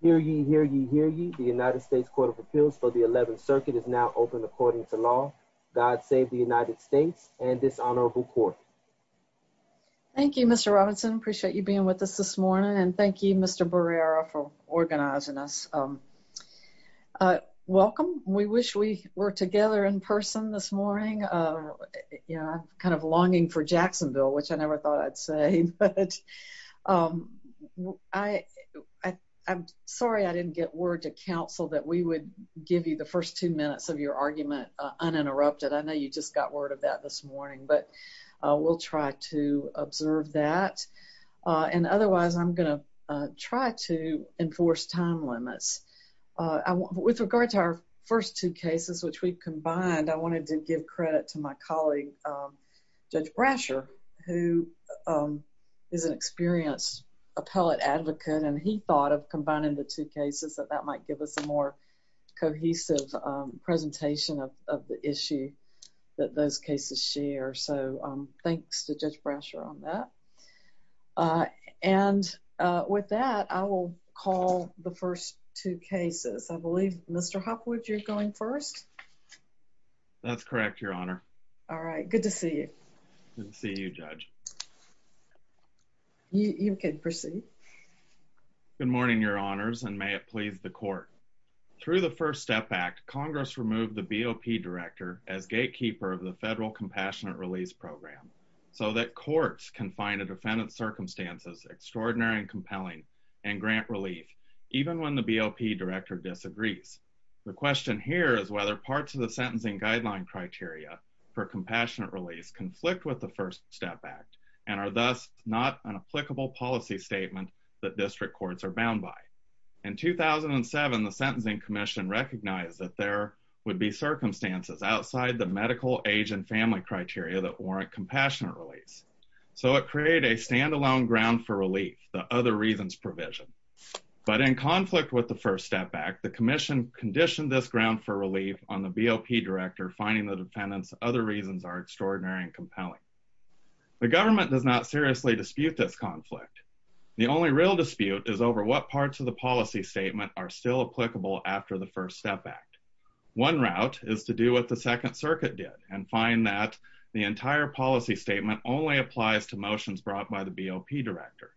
Hear ye, hear ye, hear ye. The United States Court of Appeals for the 11th Circuit is now open according to law. God save the United States and this honorable court. Thank you, Mr. Robinson. Appreciate you being with us this morning and thank you, Mr. Barrera, for organizing us. Welcome. We wish we were together in person this morning, you know, kind of longing for Jacksonville, which I never thought I'd say, but I'm sorry I didn't get word to counsel that we would give you the first two minutes of your argument uninterrupted. I know you just got word of that this morning, but we'll try to observe that and otherwise I'm gonna try to enforce time limits. With regard to our first two cases, which we've combined, I wanted to give credit to my colleague Judge Brasher, who is an experienced appellate advocate and he thought of combining the two cases that that might give us a more cohesive presentation of the issue that those cases share. So thanks to Judge Brasher on that. And with that, I will call the first two cases. I believe, Mr. Hopwood, you're going first? That's good to see you, Judge. You can proceed. Good morning, Your Honors, and may it please the Court. Through the First Step Act, Congress removed the BOP Director as gatekeeper of the Federal Compassionate Release Program so that courts can find a defendant's circumstances extraordinary and compelling and grant relief, even when the BOP Director disagrees. The question here is whether parts of the sentencing guideline criteria for compassionate release conflict with the First Step Act and are thus not an applicable policy statement that district courts are bound by. In 2007, the Sentencing Commission recognized that there would be circumstances outside the medical, age, and family criteria that warrant compassionate release. So it created a standalone ground for relief, the other reasons provision. But in conflict with the First Step Act, the Commission conditioned this ground for relief on the BOP Director finding the defendant's other reasons are extraordinary and compelling. The government does not seriously dispute this conflict. The only real dispute is over what parts of the policy statement are still applicable after the First Step Act. One route is to do what the Second Circuit did and find that the entire policy statement only applies to motions brought by the BOP Director.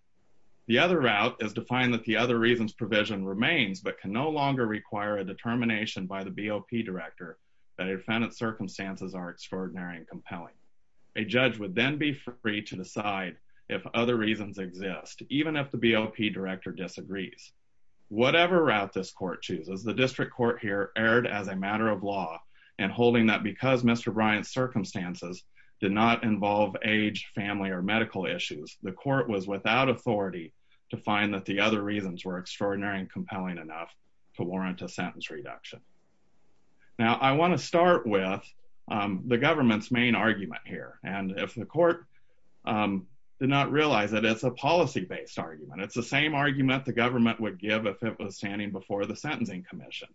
The other route is to find that the other reasons provision remains but can no longer require a determination by the BOP Director that a defendant's circumstances are extraordinary and compelling. A judge would then be free to decide if other reasons exist, even if the BOP Director disagrees. Whatever route this court chooses, the district court here erred as a matter of law and holding that because Mr. Bryant's circumstances did not involve age, family, or medical issues, the court was without authority to find that the other reasons were extraordinary and compelling enough to warrant a sentence reduction. Now, I want to start with the government's main argument here. And if the court did not realize that it's a policy-based argument, it's the same argument the government would give if it was standing before the Sentencing Commission.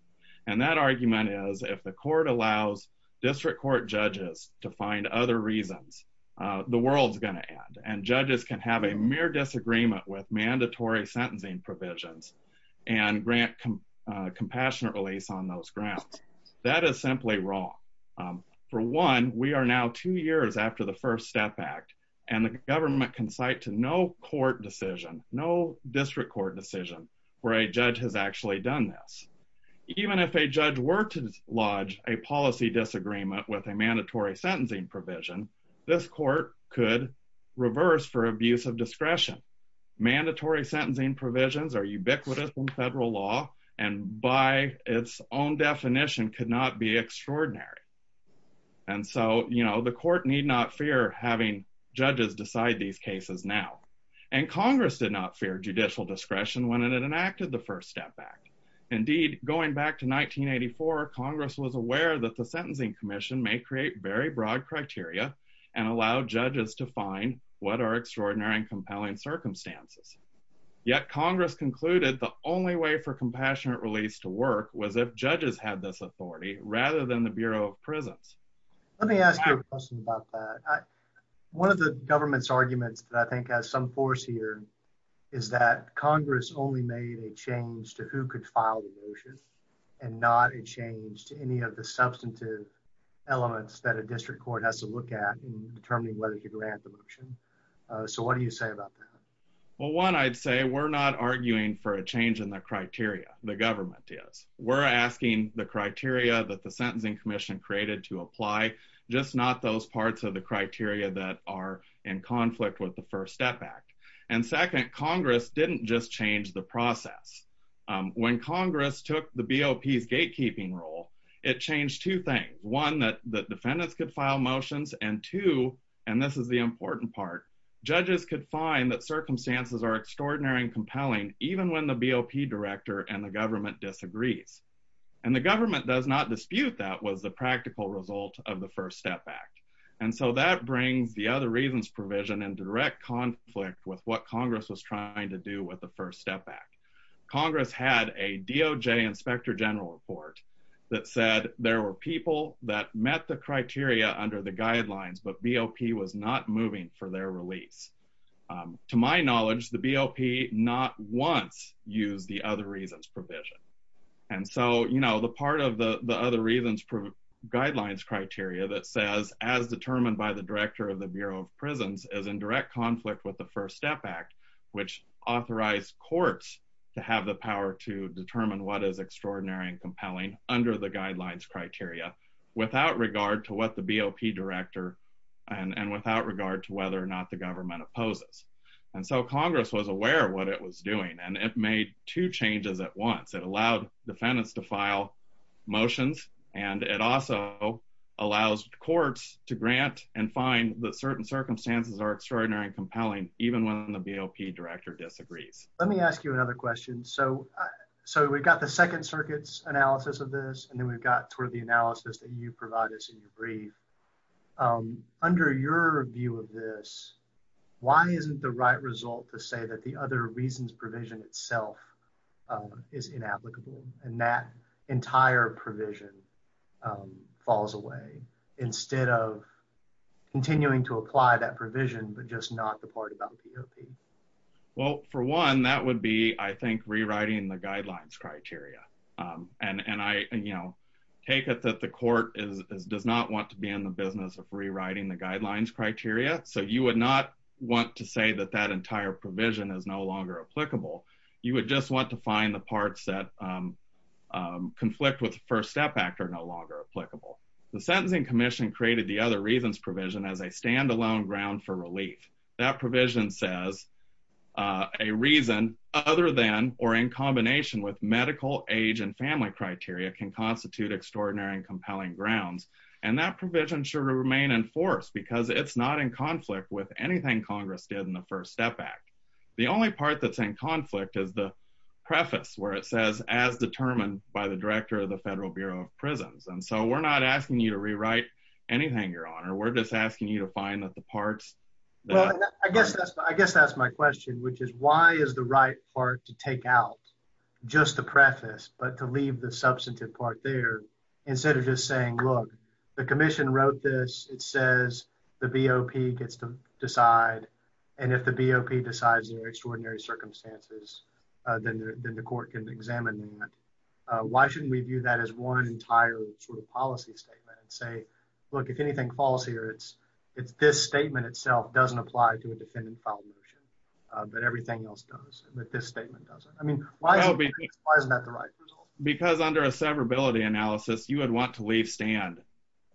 And that argument is if the court allows district court judges to find other reasons, the world's going to end. And judges can have a mere disagreement with the district court judges and grant compassionate release on those grounds. That is simply wrong. For one, we are now two years after the First Step Act, and the government can cite to no court decision, no district court decision, where a judge has actually done this. Even if a judge were to lodge a policy disagreement with a mandatory sentencing provision, this court could reverse for ubiquitous in federal law, and by its own definition, could not be extraordinary. And so, you know, the court need not fear having judges decide these cases now. And Congress did not fear judicial discretion when it enacted the First Step Act. Indeed, going back to 1984, Congress was aware that the Sentencing Commission may create very broad criteria and allow judges to find what are extraordinary and compelling circumstances. Yet Congress concluded the only way for compassionate release to work was if judges had this authority rather than the Bureau of Prisons. Let me ask you a question about that. One of the government's arguments that I think has some force here is that Congress only made a change to who could file the motion and not a change to any of the substantive elements that a district court has to look at in this case. So what do you say about that? Well, one, I'd say we're not arguing for a change in the criteria. The government is. We're asking the criteria that the Sentencing Commission created to apply, just not those parts of the criteria that are in conflict with the First Step Act. And second, Congress didn't just change the process. When Congress took the BOP's gatekeeping rule, it changed two things. One, that judges could find that circumstances are extraordinary and compelling even when the BOP director and the government disagrees. And the government does not dispute that was the practical result of the First Step Act. And so that brings the other reasons provision in direct conflict with what Congress was trying to do with the First Step Act. Congress had a DOJ Inspector General report that said there were people that met the criteria under the guidelines, but BOP was not moving for their release. To my knowledge, the BOP not once used the other reasons provision. And so, you know, the part of the other reasons guidelines criteria that says, as determined by the director of the Bureau of Prisons, is in direct conflict with the First Step Act, which authorized courts to have the power to determine what is extraordinary and compelling under the guidelines criteria without regard to what the BOP director and without regard to whether or not the government opposes. And so Congress was aware of what it was doing, and it made two changes at once. It allowed defendants to file motions, and it also allows courts to grant and find that certain circumstances are extraordinary and compelling even when the BOP director disagrees. Let me ask you another question. So we've got the Second Circuit's analysis of this, and then we've got sort of the under your view of this, why isn't the right result to say that the other reasons provision itself is inapplicable, and that entire provision falls away instead of continuing to apply that provision, but just not the part about BOP? Well, for one, that would be, I think, rewriting the guidelines criteria. And I, you know, take it that the court does not want to be in the business of rewriting the guidelines criteria, so you would not want to say that that entire provision is no longer applicable. You would just want to find the parts that conflict with the First Step Act are no longer applicable. The Sentencing Commission created the other reasons provision as a standalone ground for relief. That provision says a reason other than or in combination with medical, age, and family criteria can constitute extraordinary and compelling grounds, and that provision should remain in force because it's not in conflict with anything Congress did in the First Step Act. The only part that's in conflict is the preface where it says, as determined by the director of the Federal Bureau of Prisons. And so we're not asking you to rewrite anything, Your Honor. We're just asking you to find that the parts... Well, I guess that's my question, which is why is the right part to take out just the preface but to leave the substantive part there instead of just saying, look, the commission wrote this. It says the BOP gets to decide, and if the BOP decides there are extraordinary circumstances, then the court can examine that. Why shouldn't we view that as one entire sort of policy statement and say, look, if anything falls here, it's this statement itself doesn't apply to a defendant-filed motion, but everything else does, but this statement doesn't? I mean, why isn't that the right result? Because under a severability analysis, you would want to leave stand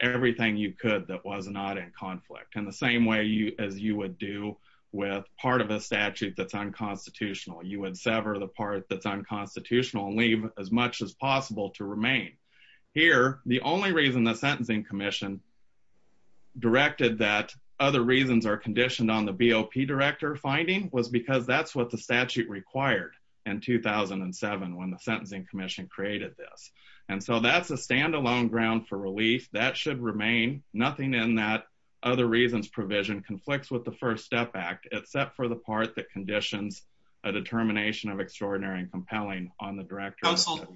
everything you could that was not in conflict in the same way as you would do with part of a statute that's unconstitutional. You would sever the part that's unconstitutional and leave as much as possible to remain. Here, the only reason the Sentencing Commission directed that other reasons are the statute required in 2007 when the Sentencing Commission created this, and so that's a stand-alone ground for relief. That should remain. Nothing in that other reasons provision conflicts with the First Step Act except for the part that conditions a determination of extraordinary and compelling on the director. Council,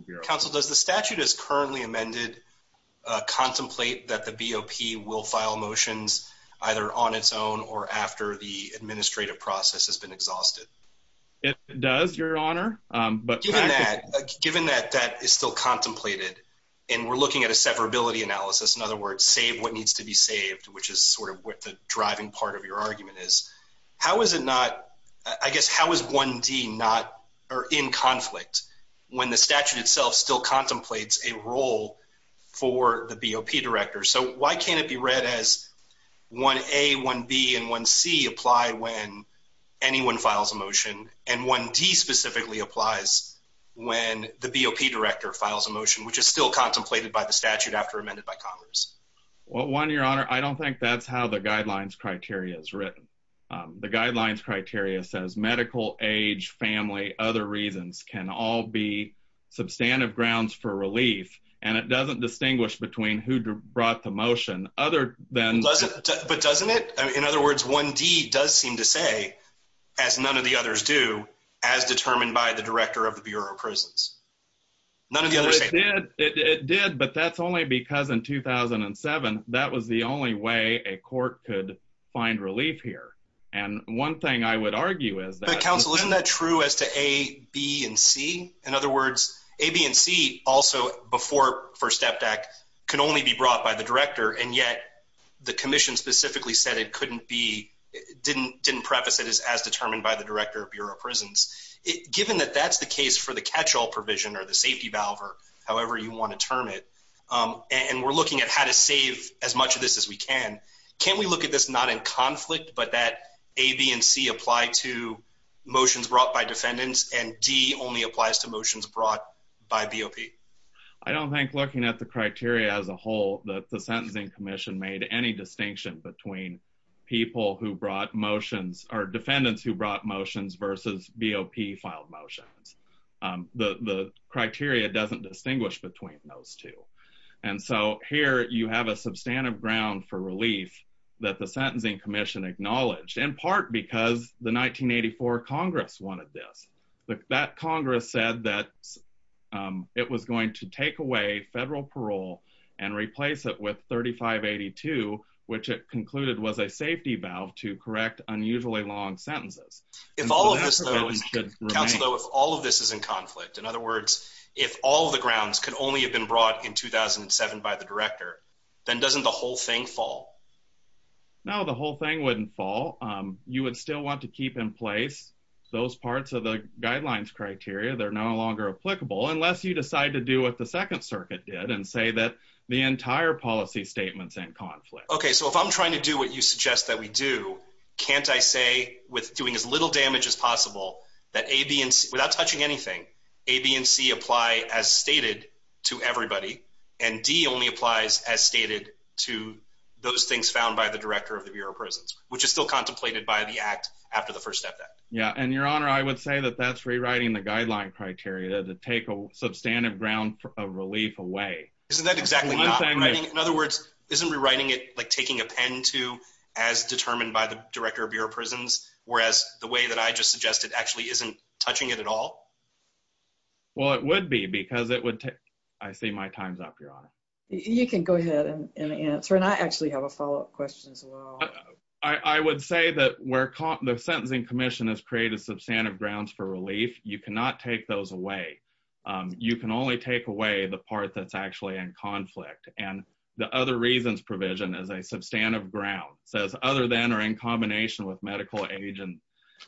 does the statute as currently amended contemplate that the BOP will file motions either on its own or after the administrative process has been exhausted? It does, Your Honor. Given that that is still contemplated, and we're looking at a severability analysis, in other words, save what needs to be saved, which is sort of what the driving part of your argument is, how is it not, I guess, how is 1D not or in conflict when the statute itself still contemplates a role for the BOP director? So why can't it be read as 1A, 1B, and 1C when files a motion, and 1D specifically applies when the BOP director files a motion, which is still contemplated by the statute after amended by Congress? Well, Juan, Your Honor, I don't think that's how the guidelines criteria is written. The guidelines criteria says medical, age, family, other reasons can all be substantive grounds for relief, and it doesn't distinguish between who brought the motion other than... But doesn't it? In other words, 1D does seem to say, as none of the others do, as determined by the director of the Bureau of Prisons. It did, but that's only because in 2007 that was the only way a court could find relief here, and one thing I would argue is that... But Counsel, isn't that true as to A, B, and C? In other words, A, B, and C also before First Step Act can only be brought by the director, and yet the commission specifically said it couldn't be... Didn't preface it as as determined by the director of Bureau of Prisons. Given that that's the case for the catch-all provision, or the safety valve, or however you want to term it, and we're looking at how to save as much of this as we can, can we look at this not in conflict, but that A, B, and C apply to motions brought by defendants, and D only applies to motions brought by BOP? I don't think looking at the any distinction between people who brought motions, or defendants who brought motions versus BOP filed motions. The criteria doesn't distinguish between those two, and so here you have a substantive ground for relief that the Sentencing Commission acknowledged, in part because the 1984 Congress wanted this. That Congress said that it was going to take away federal parole and replace it with 3582, which it concluded was a safety valve to correct unusually long sentences. If all of this, though, if all of this is in conflict, in other words, if all the grounds could only have been brought in 2007 by the director, then doesn't the whole thing fall? No, the whole thing wouldn't fall. You would still want to keep in place those parts of the guidelines criteria. They're no longer applicable unless you decide to do what the Second Circuit did, and say that the entire policy statement's in conflict. Okay, so if I'm trying to do what you suggest that we do, can't I say with doing as little damage as possible that A, B, and C, without touching anything, A, B, and C apply as stated to everybody, and D only applies as stated to those things found by the director of the Bureau of Prisons, which is still contemplated by the Act after the First Act? Yeah, and, Your Honor, I would say that that's rewriting the guideline criteria to take a substantive ground of relief away. Isn't that exactly not writing, in other words, isn't rewriting it like taking a pen to as determined by the director of Bureau of Prisons, whereas the way that I just suggested actually isn't touching it at all? Well, it would be because it would take, I see my time's up, Your Honor. You can go ahead and answer, and I actually have a follow-up question as well. I would say that where the Sentencing Commission has created substantive grounds for relief, you cannot take those away. You can only take away the part that's actually in conflict, and the other reasons provision is a substantive ground. It says other than or in combination with medical agent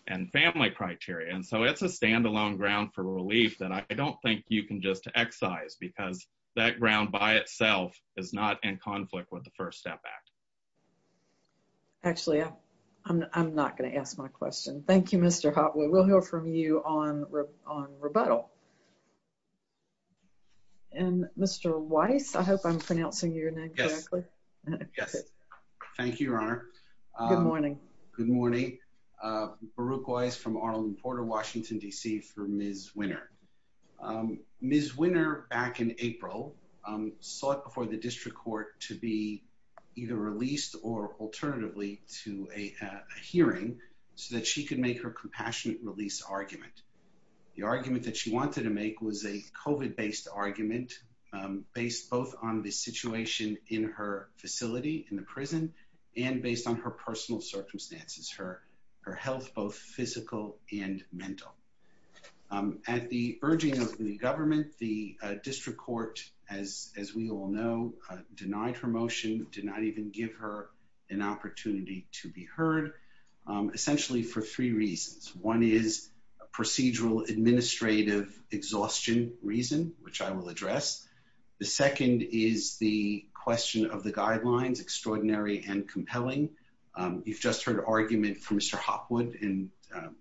and family criteria, and so it's a standalone ground for relief that I don't think you can just excise because that ground by itself is not in conflict with the First Step Act. Actually, I'm not going to ask my question. Thank you, Mr. Hopwood. We'll hear from you on rebuttal. And Mr. Weiss, I hope I'm pronouncing your name correctly. Yes. Thank you, Your Honor. Good morning. Good morning. Baruch Weiss from Arlington Porter, Washington, D.C. for Ms. Winner. Ms. Winner, back in April, sought before the district court to be either released or alternatively to a hearing so that she could make her compassionate release argument. The argument that she wanted to make was a COVID-based argument based both on the situation in her facility in the prison and based on her personal circumstances, her health, both physical and mental. At the urging of the government, the district court, as we all know, denied her motion, did not even give her an opportunity to be heard, essentially for three reasons. One is a procedural administrative exhaustion reason, which I will address. The second is the question of the guidelines, extraordinary and compelling. You've just heard an argument from Mr. Hopwood, and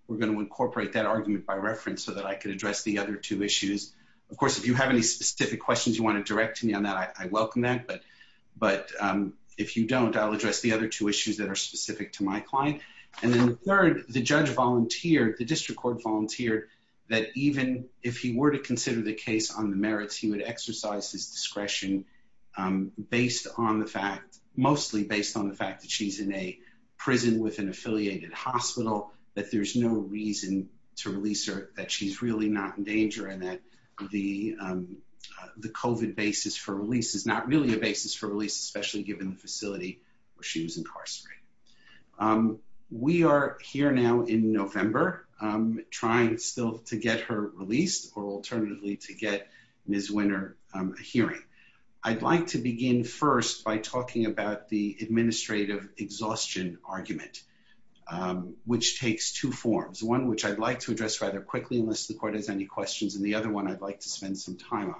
we're going to incorporate that argument by reference so that I can address the other two issues. Of course, if you have any specific questions you want to direct to me on that, I welcome that. But if you don't, I'll address the other two issues that are specific to my client. And then third, the judge volunteered, the district court volunteered, that even if he were to consider the case on the merits, he would exercise his discretion mostly based on the fact that she's in a prison with an affiliated hospital, that there's no reason to release her, that she's really not in danger, and that the COVID basis for release is not really a basis for release, especially given the facility where she was incarcerated. We are here now in November trying still to get her released or alternatively to get Ms. Winner a hearing. I'd like to begin first by talking about the administrative exhaustion argument, which takes two forms, one which I'd like to address rather quickly unless the court has any questions, and the other one I'd like to spend some time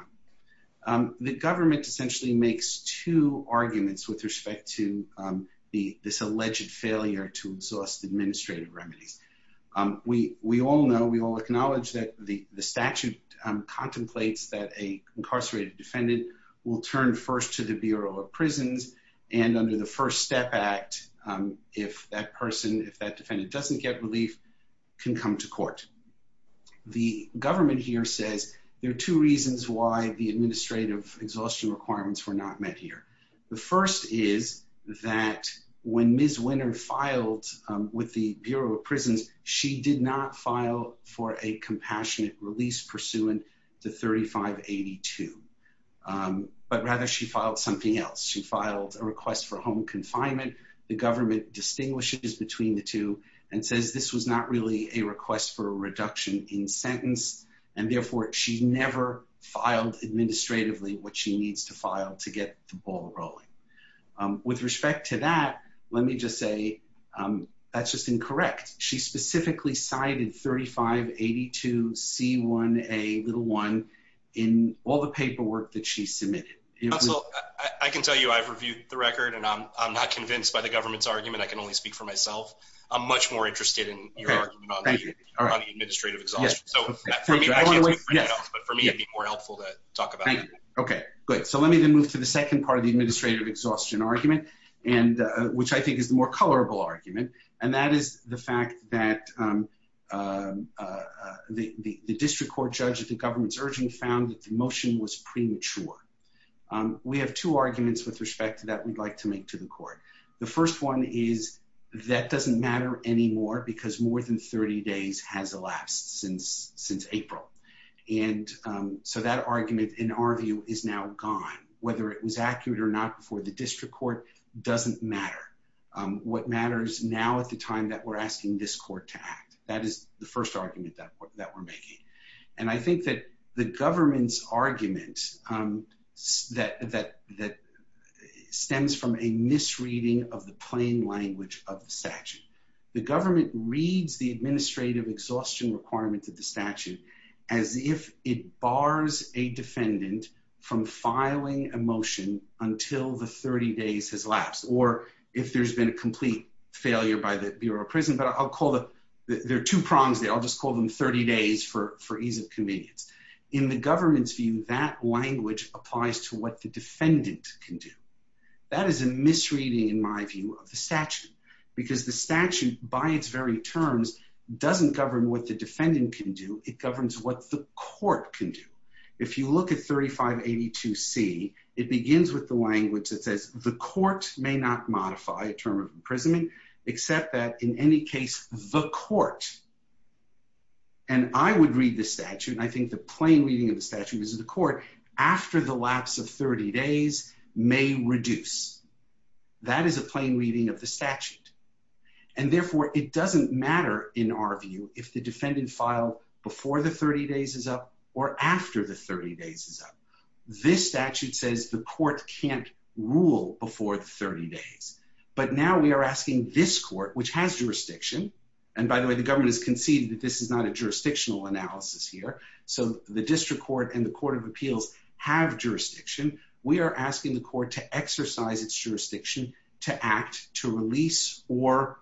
on. The government essentially makes two arguments with respect to this alleged failure to exhaust administrative remedies. We all know, we all acknowledge that the statute contemplates that a incarcerated defendant will turn first to the Bureau of Prisons, and under the First Step Act, if that person, if that defendant doesn't get relief, can come to court. The government here says there are two reasons why the administrative exhaustion requirements were not met here. The first is that when Ms. Winner filed with the Bureau of Prisons, she did not file for a compassionate release pursuant to 3582, but rather she filed something else. She filed a request for home confinement. The government distinguishes between the two and says this was not really a request for a reduction in sentence, and therefore she never filed administratively what she needs to file to get the ball rolling. With respect to that, let me just say that's just incorrect. She specifically cited 3582C1A1 in all the paperwork that she submitted. Russell, I can tell you I've reviewed the record, and I'm not convinced by the government's argument. I can only speak for myself. I'm much more interested in your argument on the administrative exhaustion. So for me, it'd be more helpful to talk about it. Okay, good. So let me then move to the second part of the administrative exhaustion argument, which I think is the more colorable argument, and that is the fact that the district court judge at the government's urging found that the motion was premature. We have two arguments with respect to that we'd like to make to the court. The first one is that doesn't matter anymore because more than 30 days has elapsed since April, and so that argument, in our view, is now gone. Whether it was accurate or not before the district court doesn't matter. What matters now at the time that we're asking this court to act. That is the first argument that we're making, and I think that the government's argument that stems from a misreading of the plain language of the statute. The government reads the administrative exhaustion requirement of the statute as if it bars a defendant from filing a motion until the 30 days has elapsed, or if there's been a complete failure by the Bureau of Prison. But I'll call the, there are two prongs there. I'll just call them 30 days for for ease of convenience. In the government's view, that language applies to what the defendant can do. That is a misreading, in my view, of the statute because the statute, by its very terms, doesn't govern what the defendant can do. It governs what the court can do. If you look at 3582C, it begins with the language that says the court may not modify a term of imprisonment except that in any case, the court, and I would read the statute, and I think the plain reading of the statute is that the defendant can reduce. That is a plain reading of the statute. And therefore, it doesn't matter, in our view, if the defendant file before the 30 days is up or after the 30 days is up. This statute says the court can't rule before the 30 days. But now we are asking this court, which has jurisdiction, and by the way, the government has conceded that this is not a jurisdictional analysis here. So the district court and the court of appeals have jurisdiction. We are asking the court to exercise its jurisdiction to act, to release, or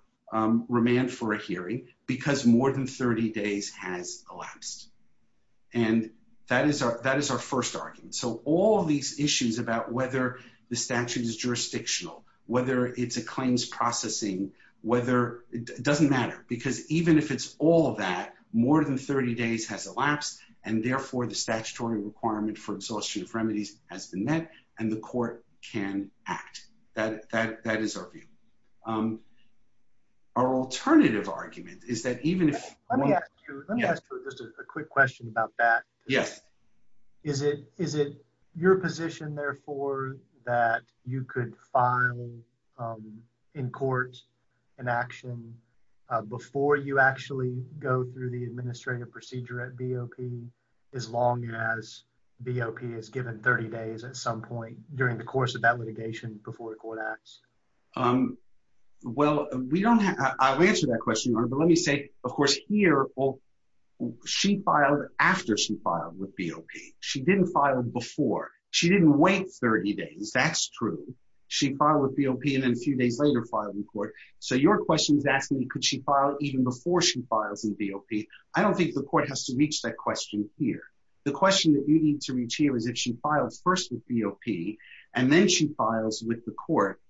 remand for a hearing because more than 30 days has elapsed. And that is our first argument. So all of these issues about whether the statute is jurisdictional, whether it's a claims processing, whether it doesn't matter, because even if it's all of that, more than 30 days has elapsed, and therefore, the statutory requirement for exhaustion of remedies has been met, and the court can act. That is our view. Our alternative argument is that even if... Let me ask you just a quick question about that. Yes. Is it your position, therefore, that you could file in court an action before you actually go through the administrative procedure at BOP, as long as BOP is given 30 days at some point during the course of that litigation before the court acts? Well, we don't have... I'll answer that question, but let me say, of course, here, she filed after she filed with BOP. She didn't file before. She didn't wait 30 days. That's true. She filed with BOP. Could she file even before she files in BOP? I don't think the court has to reach that question here. The question that you need to reach here is if she files first with BOP, and then she files with the court,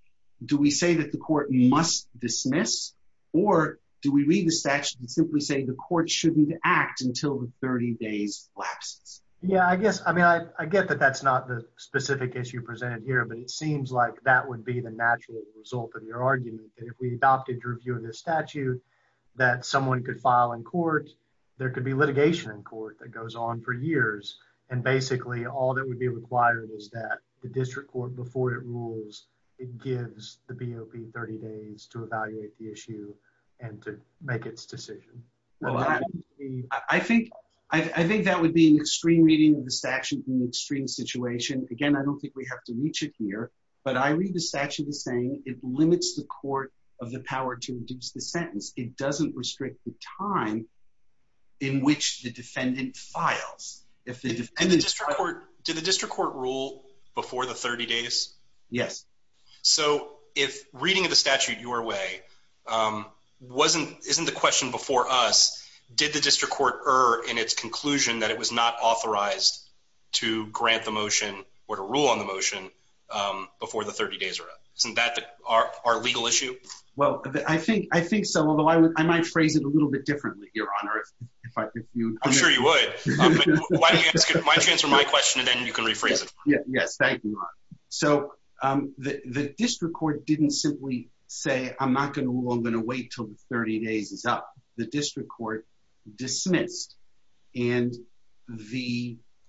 do we say that the court must dismiss, or do we read the statute and simply say the court shouldn't act until the 30 days lasts? Yeah, I guess. I mean, I get that that's not the specific issue presented here, but it seems like that would be the natural result of your argument, that if we adopted a review of this statute that someone could file in court, there could be litigation in court that goes on for years. And basically, all that would be required is that the district court, before it rules, it gives the BOP 30 days to evaluate the issue and to make its decision. I think that would be an extreme reading of the statute in an extreme situation. Again, I don't think we have to reach it here, but I read the statute as saying it limits the court of the power to reduce the sentence. It doesn't restrict the time in which the defendant files. Did the district court rule before the 30 days? Yes. So if reading of the statute your way isn't the question before us, did the district court err in its conclusion that it was not authorized to grant the motion or to rule on the motion before the 30 days are up? Isn't that our legal issue? Well, I think so, although I might phrase it a little bit differently, Your Honor. I'm sure you would. Why don't you answer my question and then you can rephrase it. Yes, thank you, Ron. So the district court didn't simply say, I'm not going to rule, and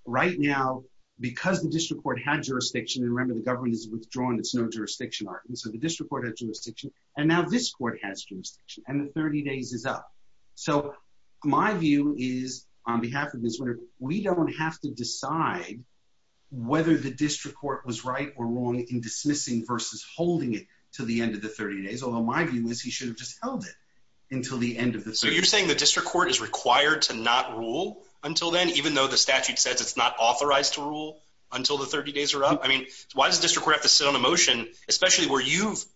right now, because the district court had jurisdiction, and remember the government has withdrawn its no-jurisdiction argument, so the district court had jurisdiction, and now this court has jurisdiction, and the 30 days is up. So my view is, on behalf of the district court, we don't have to decide whether the district court was right or wrong in dismissing versus holding it until the end of the 30 days, although my view is he should have just held it until the end of the 30 days. You're saying the district court is required to not rule until then, even though the statute says it's not authorized to rule until the 30 days are up? I mean, why does the district court have to sit on a motion, especially where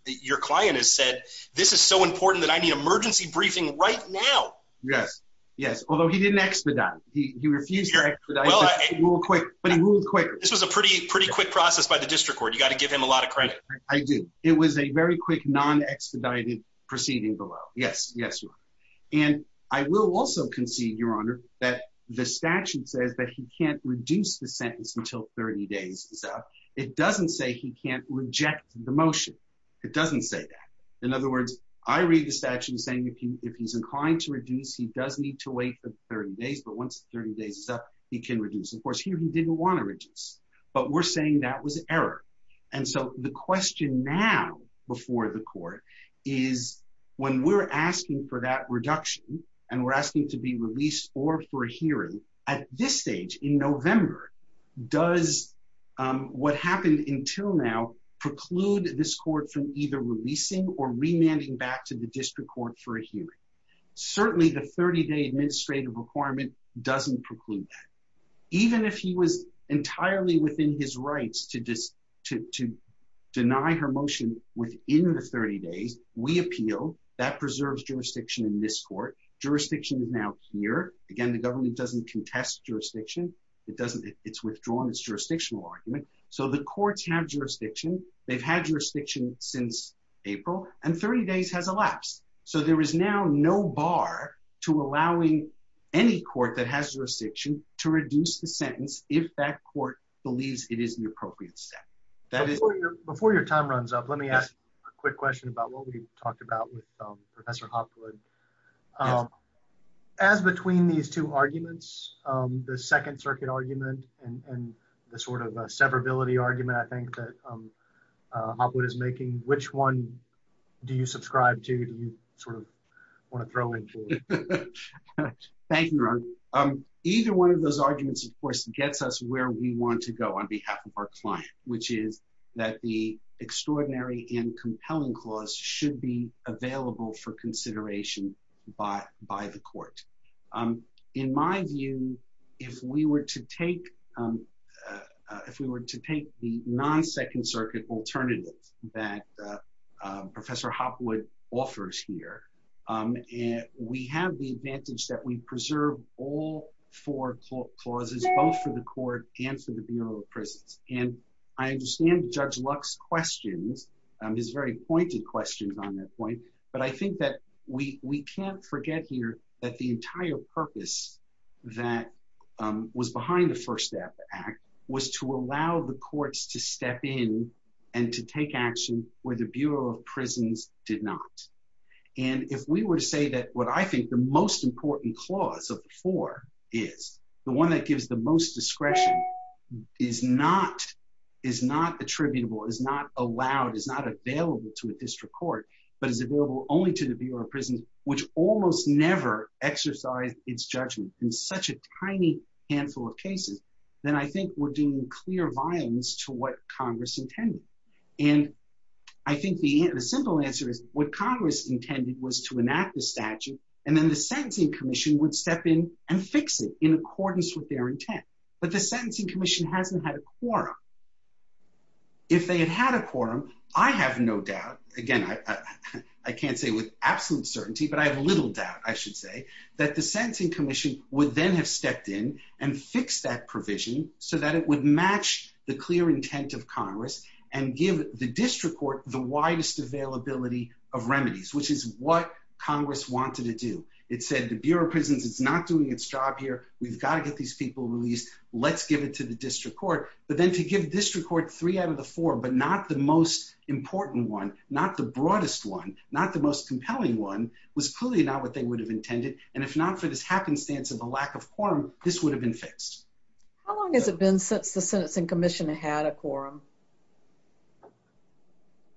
your client has said, this is so important that I need emergency briefing right now? Yes, yes, although he didn't expedite. He refused to expedite, but he ruled quick. This was a pretty quick process by the district court. You've got to give him a lot of credit. I do. It was a very quick, non-expedited proceeding below. Yes, yes, Your Honor. And I will also concede, Your Honor, that the statute says that he can't reduce the sentence until 30 days is up. It doesn't say he can't reject the motion. It doesn't say that. In other words, I read the statute saying if he's inclined to reduce, he does need to wait for the 30 days, but once the 30 days is up, he can reduce. Of course, here he didn't want to reduce, but we're saying that was error. And so the question now before the court is when we're asking for that reduction and we're asking to be released or for a hearing, at this stage in November, does what happened until now preclude this court from either releasing or remanding back to the district court for a hearing? Certainly the 30-day administrative requirement doesn't preclude that. Even if he was entirely within his rights to deny her motion within the 30 days, we appeal. That preserves jurisdiction in this court. Jurisdiction is now here. Again, the government doesn't contest jurisdiction. It's withdrawn its jurisdictional argument. So the courts have jurisdiction. They've had jurisdiction since April, and 30 days has elapsed. So there is now no bar to allowing any court that has jurisdiction to reduce the sentence if that court believes it is an appropriate step. Before your time runs up, let me ask a quick question about what we talked about with Professor Hopwood. As between these two arguments, the Second Circuit argument and the sort of severability argument I think that Hopwood is making, which one do you subscribe to? Do you sort of want to throw in? Thank you, Ron. Either one of those arguments, of course, gets us where we want to go on behalf of our client, which is that the extraordinary and compelling clause should be available for consideration by the court. In my view, if we were to take the non-Second Circuit alternative that Professor Hopwood offers here, we have the advantage that we preserve all four clauses, both for the court and for the Bureau of Prisons. And I understand Judge Luck's questions, his very pointed questions on that point, but I think that we can't forget here that the entire the Bureau of Prisons did not. And if we were to say that what I think the most important clause of the four is, the one that gives the most discretion, is not attributable, is not allowed, is not available to a district court, but is available only to the Bureau of Prisons, which almost never exercised its judgment in such a tiny handful of cases, then I think we're doing clear violence to what Congress intended. And I think the simple answer is, what Congress intended was to enact the statute, and then the Sentencing Commission would step in and fix it in accordance with their intent. But the Sentencing Commission hasn't had a quorum. If they had had a quorum, I have no doubt, again, I can't say with absolute certainty, but I have little doubt, I should say, that the Sentencing Commission would then have stepped in and fixed that provision so that it would match the clear intent of Congress and give the district court the widest availability of remedies, which is what Congress wanted to do. It said, the Bureau of Prisons is not doing its job here, we've got to get these people released, let's give it to the district court. But then to give district court three out of the four, but not the most important one, not the broadest one, not the most compelling one, was clearly not what they would have intended. And if not for this happenstance of a lack of quorum, this would have been fixed. How long has it been since the Sentencing Commission had a quorum?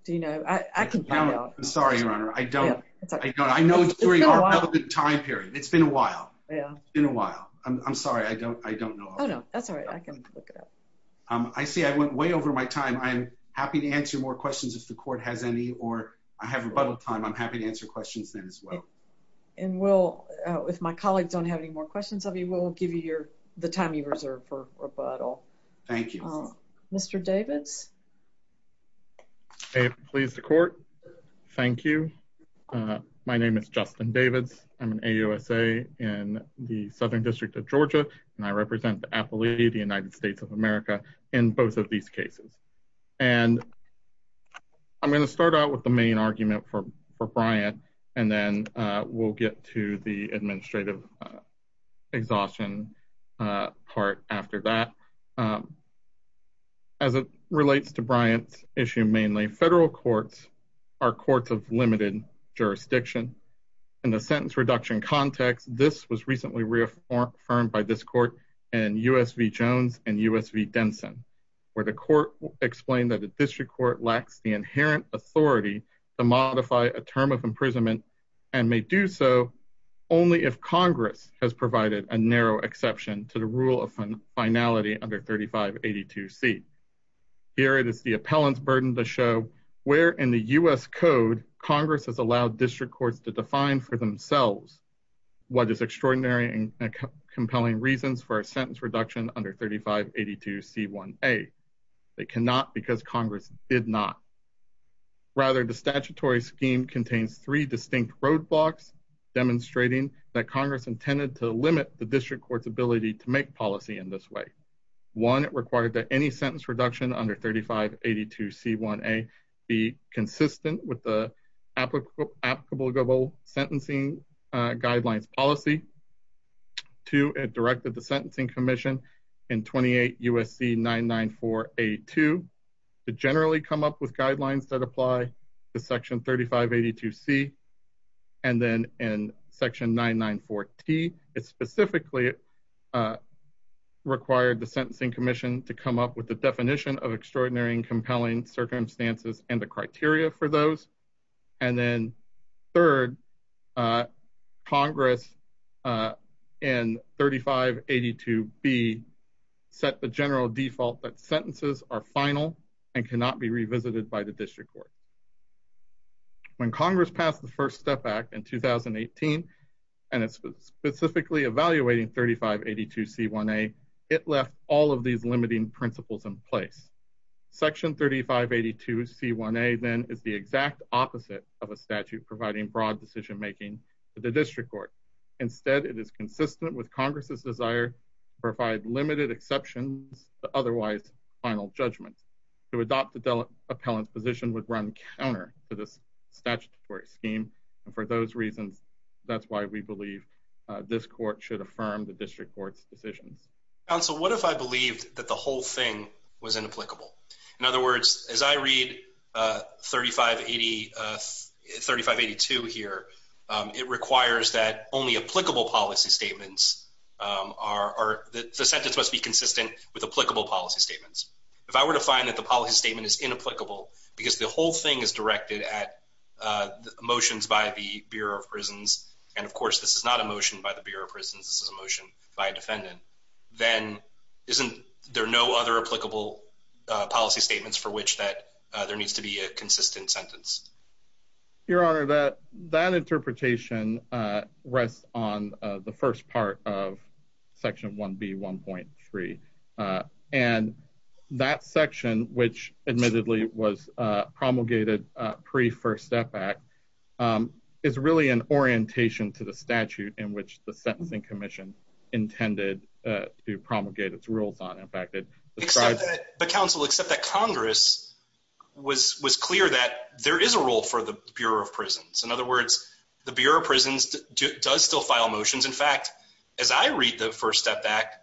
Do you know? I can tell you. I'm sorry, Your Honor, I don't. I know it's during our relevant time period. It's been a while. Yeah. It's been a while. I'm sorry, I don't know. Oh, no, that's all right. I can look it up. I see I went way over my time. I'm happy to answer more questions if the court has any, or I have rebuttal time, I'm happy to answer questions then as well. And we'll, if my colleagues don't have any more questions of you, we'll give you the time you reserve for rebuttal. Thank you. Mr. Davids? I am pleased to court. Thank you. My name is Justin Davids. I'm an AUSA in the Southern District of Georgia, and I represent the Appalachian United States of America in both of these cases. And I'm going to start out with the main argument for Brian, and then we'll get to the administrative exhaustion part after that. As it relates to Brian's issue mainly, federal courts are courts of limited jurisdiction. In the sentence reduction context, this was recently reaffirmed by this court and USV Jones and USV Denson, where the court explained that the district court lacks the inherent authority to modify a term of imprisonment and may do so only if Congress has provided a narrow exception to the rule of finality under 3582C. Here it is the appellant's burden to show where in the US code Congress has allowed district courts to define for themselves what is extraordinary and compelling reasons for a sentence reduction under 3582C1A. They cannot because Congress did not. Rather, the statutory scheme contains three distinct roadblocks demonstrating that Congress intended to limit the district court's ability to make policy in this way. One, it required that any sentence reduction under 3582C1A be consistent with the applicable sentencing guidelines policy. Two, it directed the Sentencing Commission in 28 U.S.C. 994A2 to generally come up with guidelines that apply to section 3582C and then in section 994T. It specifically required the Sentencing Commission to come up with the definition of extraordinary compelling circumstances and the criteria for those. And then third, Congress in 3582B set the general default that sentences are final and cannot be revisited by the district court. When Congress passed the First Step Act in 2018 and it's specifically evaluating 3582C1A, it left all of these limiting principles in place. Section 3582C1A then is the exact opposite of a statute providing broad decision-making to the district court. Instead, it is consistent with Congress's desire to provide limited exceptions to otherwise final judgments. To adopt the appellant's position would run counter to this statutory scheme and for those reasons, that's why we believe this court should affirm the district court's decisions. Counsel, what if I believed that the whole thing was inapplicable? In other words, as I read 3582 here, it requires that only applicable policy statements are, the sentence must be consistent with applicable policy statements. If I were to find that the policy statement is motions by the Bureau of Prisons, and of course this is not a motion by the Bureau of Prisons, this is a motion by a defendant, then isn't there no other applicable policy statements for which that there needs to be a consistent sentence? Your Honor, that interpretation rests on the Act. It's really an orientation to the statute in which the Sentencing Commission intended to promulgate its rules on. In fact, it describes- But Counsel, except that Congress was clear that there is a rule for the Bureau of Prisons. In other words, the Bureau of Prisons does still file motions. In fact, as I read the First Step Act,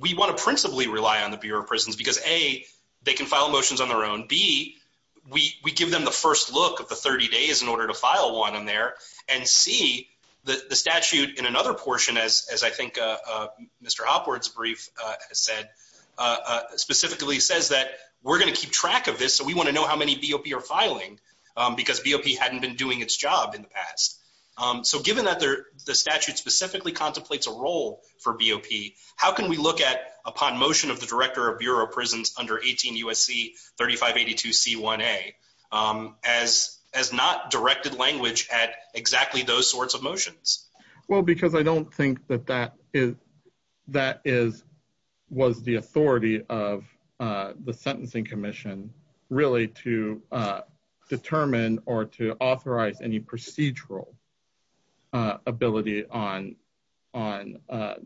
we want to principally rely on the Bureau of Prisons because A, they can file motions on their own. B, we give them the first look of the 30 days in order to file one in there. And C, the statute in another portion, as I think Mr. Opward's brief has said, specifically says that we're going to keep track of this, so we want to know how many BOP are filing because BOP hadn't been doing its job in the past. So given that the statute specifically contemplates a role for BOP, how can we look at upon motion of the Director of Bureau of Prisons under 18 U.S.C. 3582c1a as not directed language at exactly those sorts of motions? Well, because I don't think that that was the authority of the Sentencing Commission really to determine or to authorize any procedural ability on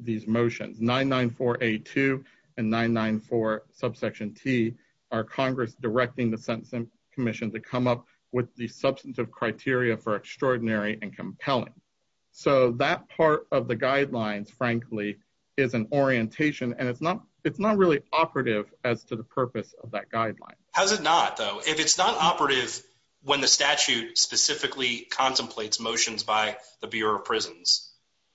these motions. 994a2 and 994 subsection T are Congress directing the Sentencing Commission to come up with the substantive criteria for extraordinary and compelling. So that part of the guidelines, frankly, is an orientation, and it's not really operative as to the purpose of that guideline. How's it not, though? If it's not operative when the statute specifically contemplates motions by the Bureau of Prisons,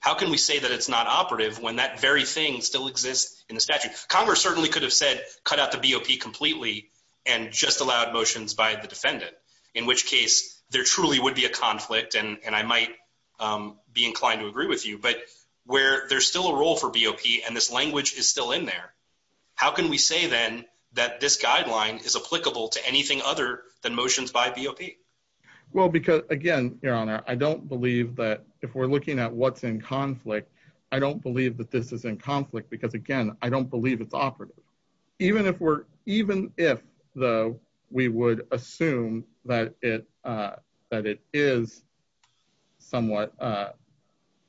how can we say that it's not operative when that very thing still exists in the statute? Congress certainly could have said cut out the BOP completely and just allowed motions by the defendant, in which case there truly would be a conflict, and I might be inclined to agree with you, but where there's still a role for BOP and this language is still in there, how can we say then that this guideline is applicable to anything other than motions by BOP? Well, because, again, Your Honor, I don't believe that if we're looking at what's in conflict, I don't believe that this is in conflict because, again, I don't believe it's operative. Even if we're, even if, though, we would assume that it is somewhat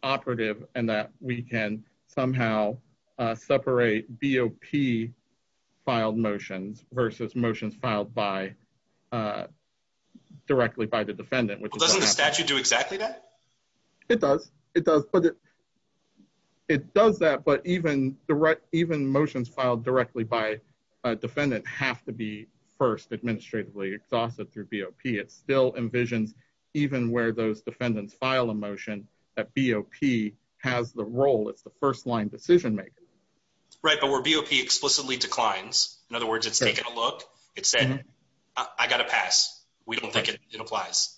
operative and that we can somehow separate BOP-filed motions versus motions filed by, directly by the defendant. Well, doesn't the statute do exactly that? It does, it does, but it does that, but even motions filed directly by a defendant have to be first administratively exhausted through BOP. It still envisions, even where those defendants file a motion, that BOP has the role, it's the first-line decision-maker. Right, but where BOP explicitly declines, in other words, it's taking a look, it's saying, I got to pass, we don't think it applies,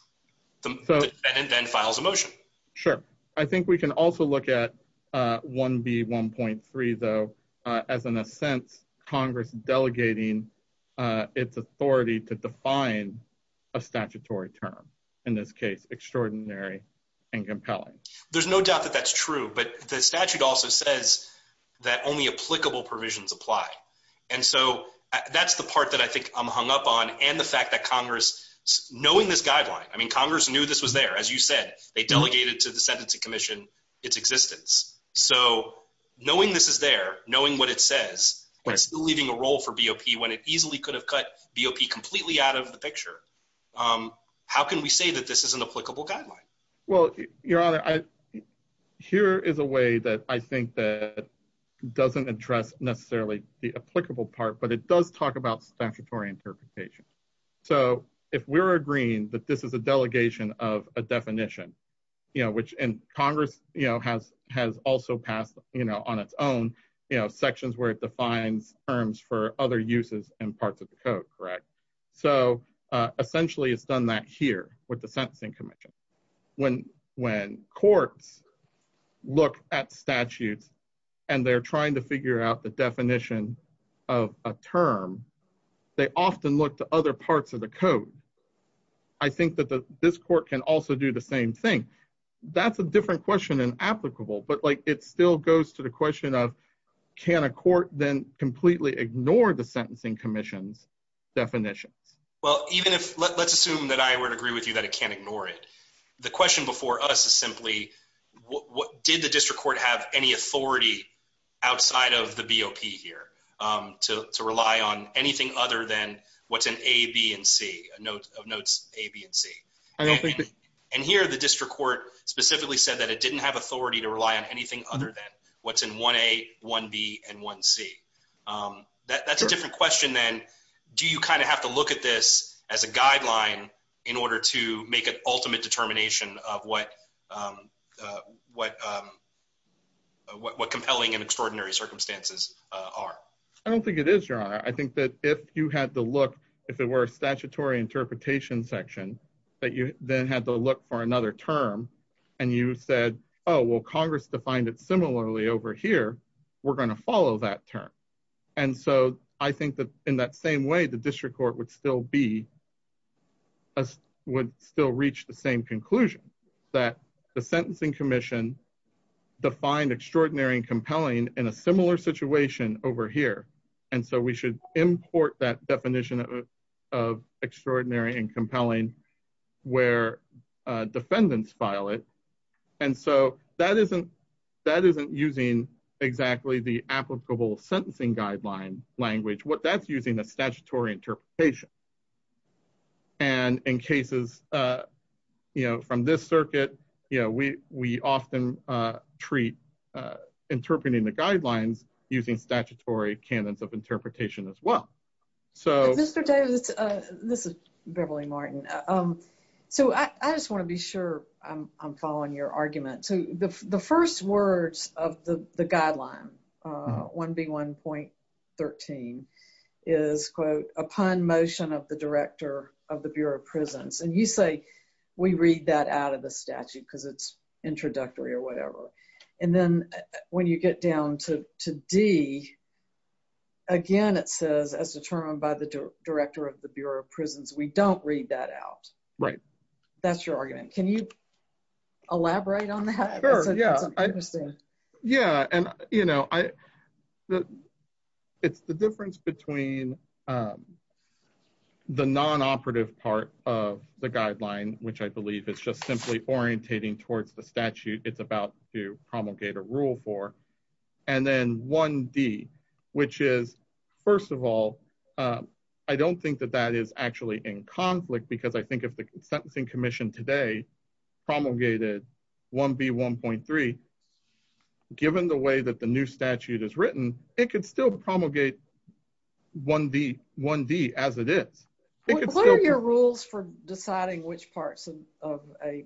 the defendant then files a motion. Sure. I think we can also look at 1B1.3, though, as, in a sense, Congress delegating its authority to define a statutory term, in this case, extraordinary and compelling. There's no doubt that that's true, but the statute also says that only applicable provisions apply, and so that's the part that I think I'm hung up on, and the fact that Congress, knowing this guideline, I mean, Congress knew this was there. As you said, they delegated to the Sentencing Commission its existence, so knowing this is there, knowing what it says, it's still leaving a role for BOP when it easily could have cut BOP completely out of the picture. How can we say that this is an applicable guideline? Well, Your Honor, here is a way that I think that doesn't address necessarily the applicable part, but it does talk about statutory interpretation. So, if we're agreeing that this is a delegation of a definition, you know, which, and Congress, you know, has also passed, you know, on its own, you know, sections where it defines terms for other uses and parts of the code, correct? So, essentially, it's done that here with the Sentencing Commission. When courts look at statutes and they're trying to figure out the definition of a term, they often look to other parts of the code. I think that this court can also do the same thing. That's a different question in applicable, but, like, it still goes to the question of, can a court then completely ignore the Sentencing Commission's definitions? Well, even if, let's assume that I would agree with you that it can't ignore it. The question before us is simply, what, did the district court have any authority outside of the BOP here to rely on anything other than what's an A, B, and C, a note of notes A, B, and C? And here, the district court specifically said that it didn't have authority to rely on anything other than what's in 1A, 1B, and 1C. That's a different question than, do you kind of have to look at this as a guideline in order to make an ultimate determination of what compelling and extraordinary circumstances are? I don't think it is, Your Honor. I think that if you had to look, if it were a statutory interpretation section, that you then had to look for another term, and you said, oh, well, Congress defined it similarly over here, we're going to follow that term. And so, I think that in that same way, the district court would still be, would still reach the same conclusion, that the Sentencing Commission defined extraordinary and compelling in a similar situation over here, and so we should import that definition of extraordinary and compelling where defendants file it. And so, that isn't using exactly the applicable sentencing guideline language. That's using a statutory interpretation. And in cases, you know, from this circuit, you know, we often treat interpreting the guidelines using statutory canons of interpretation as well. So... Mr. Davis, this is Beverly Martin. So, I just want to be sure I'm following your argument. So, the first words of the guideline, 1B1.13, is, quote, upon motion of the director of the Bureau of Prisons. And you say, we read that out of the statute, because it's introductory or whatever. And then, when you get down to D, again, it says, as determined by the director of the Bureau of Prisons, we don't read that out. Right. That's your argument. Can you elaborate on that? Sure, yeah. Yeah, and, you know, I, the, it's the difference between the non-operative part of the guideline, which I believe is just simply orientating towards the statute it's about to promulgate a rule for, and then 1D, which is, first of all, I don't think that that is actually in conflict, because I think if the Sentencing Commission today promulgated 1B1.3, given the way that the new statute is written, it could still promulgate 1D as it is. What are your rules for deciding which parts of a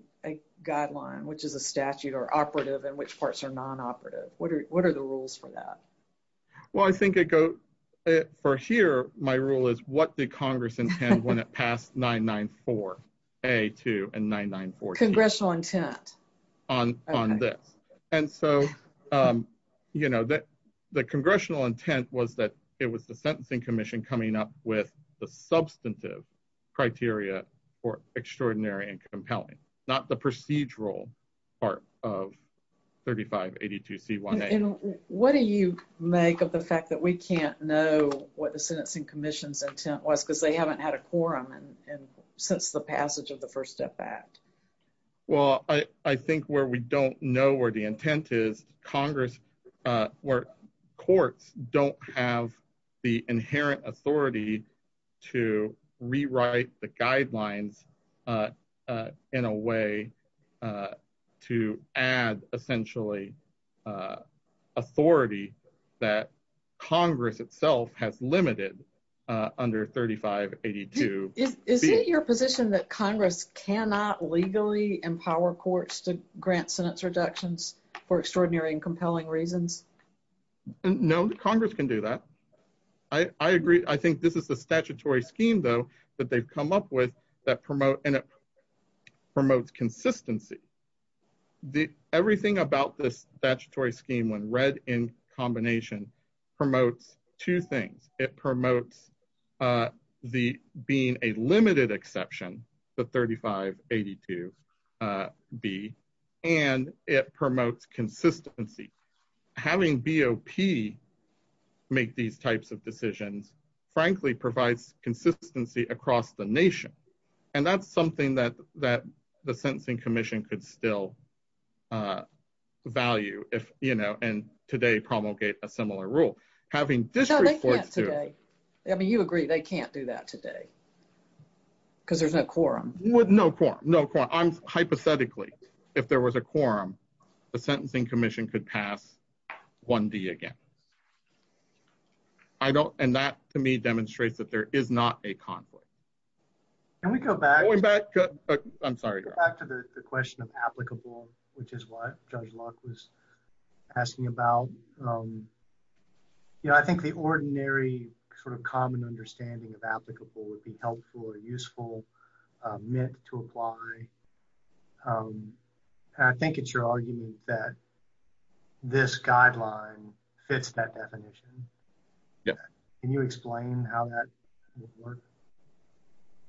guideline, which is a statute or operative, and which parts are non-operative? What are the rules for that? Well, I think it goes, for here, my rule is, what did Congress intend when it passed 994 A.2 and 994. Congressional intent. On this. And so, you know, that the congressional intent was that it was the Sentencing Commission coming up with the substantive criteria for extraordinary and compelling, not the procedural part of 3582 C.1.A. And what do you make of the fact that we can't know what the Sentencing Commission's intent was, because they haven't had a quorum since the passage of the First Step Act? Well, I think where we don't know where the intent is, Congress, where courts don't have the inherent authority to rewrite the guidelines in a way that Congress itself has limited under 3582. Is it your position that Congress cannot legally empower courts to grant sentence reductions for extraordinary and compelling reasons? No, Congress can do that. I agree. I think this is the statutory scheme, though, that they've come up with that promotes consistency. Everything about this statutory scheme, when read in combination, promotes two things. It promotes being a limited exception, the 3582 B, and it promotes consistency. Having BOP make these types of decisions, frankly, provides consistency across the nation. And that's something that the Sentencing Commission could still value, if, you know, and today promulgate a similar rule. Having district courts do it. No, they can't today. I mean, you agree they can't do that today, because there's no quorum. No quorum, no quorum. Hypothetically, if there was a quorum, the Sentencing Commission could pass 1D again. And that, to me, demonstrates that there is not a conflict. Can we go back to the question of applicable, which is what Judge Locke was asking about? I think the ordinary sort of common understanding of applicable would be helpful or useful meant to apply. I think it's your argument that this guideline fits that definition. Can you explain how that would work?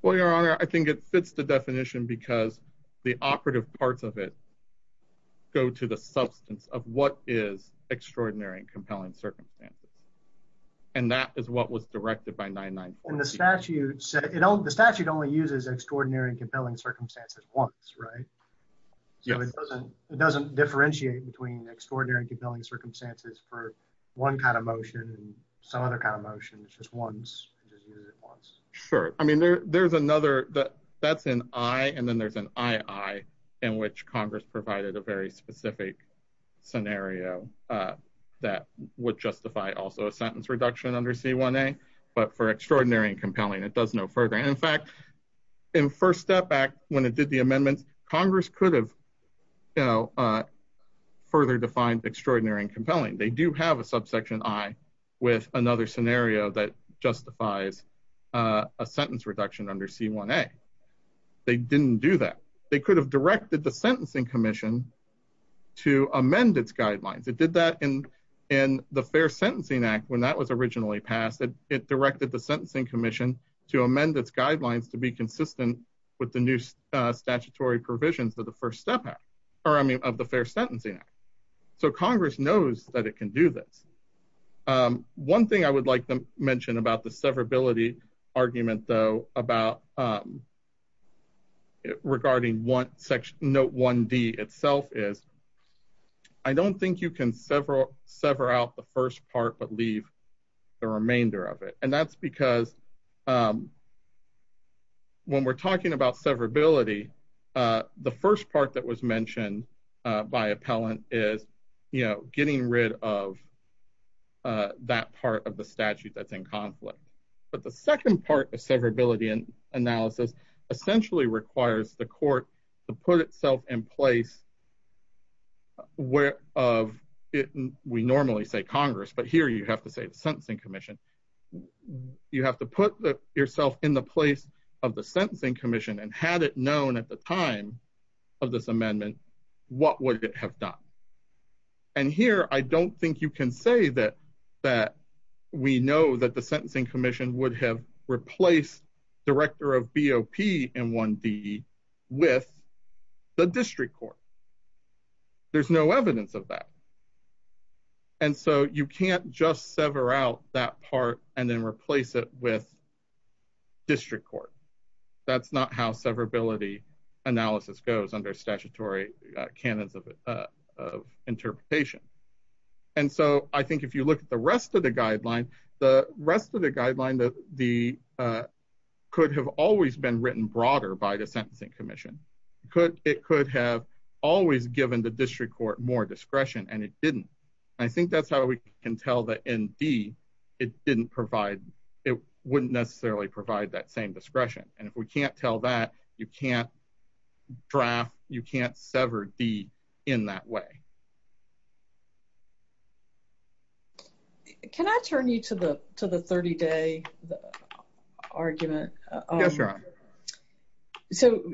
Well, Your Honor, I think it fits the definition because the operative parts of it go to the substance of what is extraordinary and compelling circumstances. And that is what was directed by 99. And the statute said, you know, the statute only uses extraordinary and compelling circumstances once, right? Yeah, it doesn't differentiate between extraordinary and compelling circumstances for one kind of motion and some other kind of motion. It's just once. Sure. I mean, there's another, that's an I, and then there's an II, in which Congress provided a very specific scenario that would justify also a sentence reduction under C1A. But for extraordinary and compelling, it does no further. And in fact, in First Step Act, when it did the amendments, Congress could have, you know, further defined extraordinary and compelling. They do have a subsection I with another scenario that justifies a sentence reduction under C1A. They didn't do that. They could have directed the Sentencing Commission to amend its guidelines. It did that in the Fair Sentencing Act when that was originally passed. It directed the Sentencing Commission to amend its guidelines to be consistent with the new statutory provisions of the First Step Act, or I mean, of the Fair Sentencing Act. So Congress knows that it can do this. One thing I would like to mention about the severability argument, though, about, regarding Note 1D itself is, I don't think you can sever out the first part but leave the remainder of it. And that's because when we're talking about severability, the first part that was mentioned by appellant is, you know, getting rid of that part of the statute that's in conflict. But the second part of severability analysis essentially requires the court to put itself in place where of, we normally say Congress, but here you have to say the Sentencing Commission. You have to put yourself in the place of the Sentencing Commission and had it known at the time of this amendment, what would it have done? And here, I don't think you can say that we know that the Sentencing Commission would have replaced director of BOP in 1D with the district court. There's no evidence of that. And so you can't just sever out that part and then replace it with district court. That's not how severability analysis goes under statutory canons of interpretation. And so I think if you look at the rest of the guideline, the rest of the guideline could have always been written broader by the Sentencing Commission. It could have always given the district court more discretion and it didn't. I think that's how we can tell that in D, it wouldn't necessarily provide that same discretion. And if we can't tell that, you can't draft, you can't sever D in that way. Can I turn you to the 30-day argument? Yes, Your Honor. So,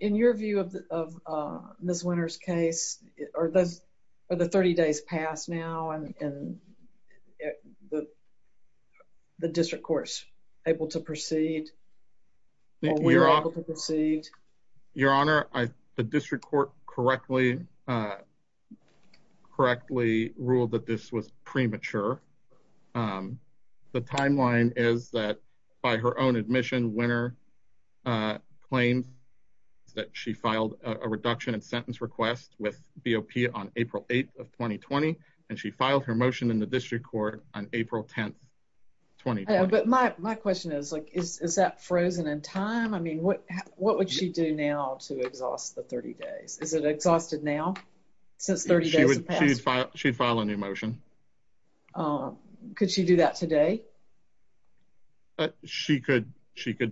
in your view of Ms. Winter's case, are the 30 days passed now and the district courts able to proceed? Your Honor, the district court correctly ruled that this was premature. The timeline is that by her own admission, Winter claims that she filed a reduction in sentence request with BOP on April 8th of 2020 and she filed her motion in the district court on April 10th, 2020. But my question is like, is that frozen in time? I mean, what would she do now to exhaust the 30 days? Is it exhausted now since 30 days have passed? She'd file a new motion. Could she do that today? She could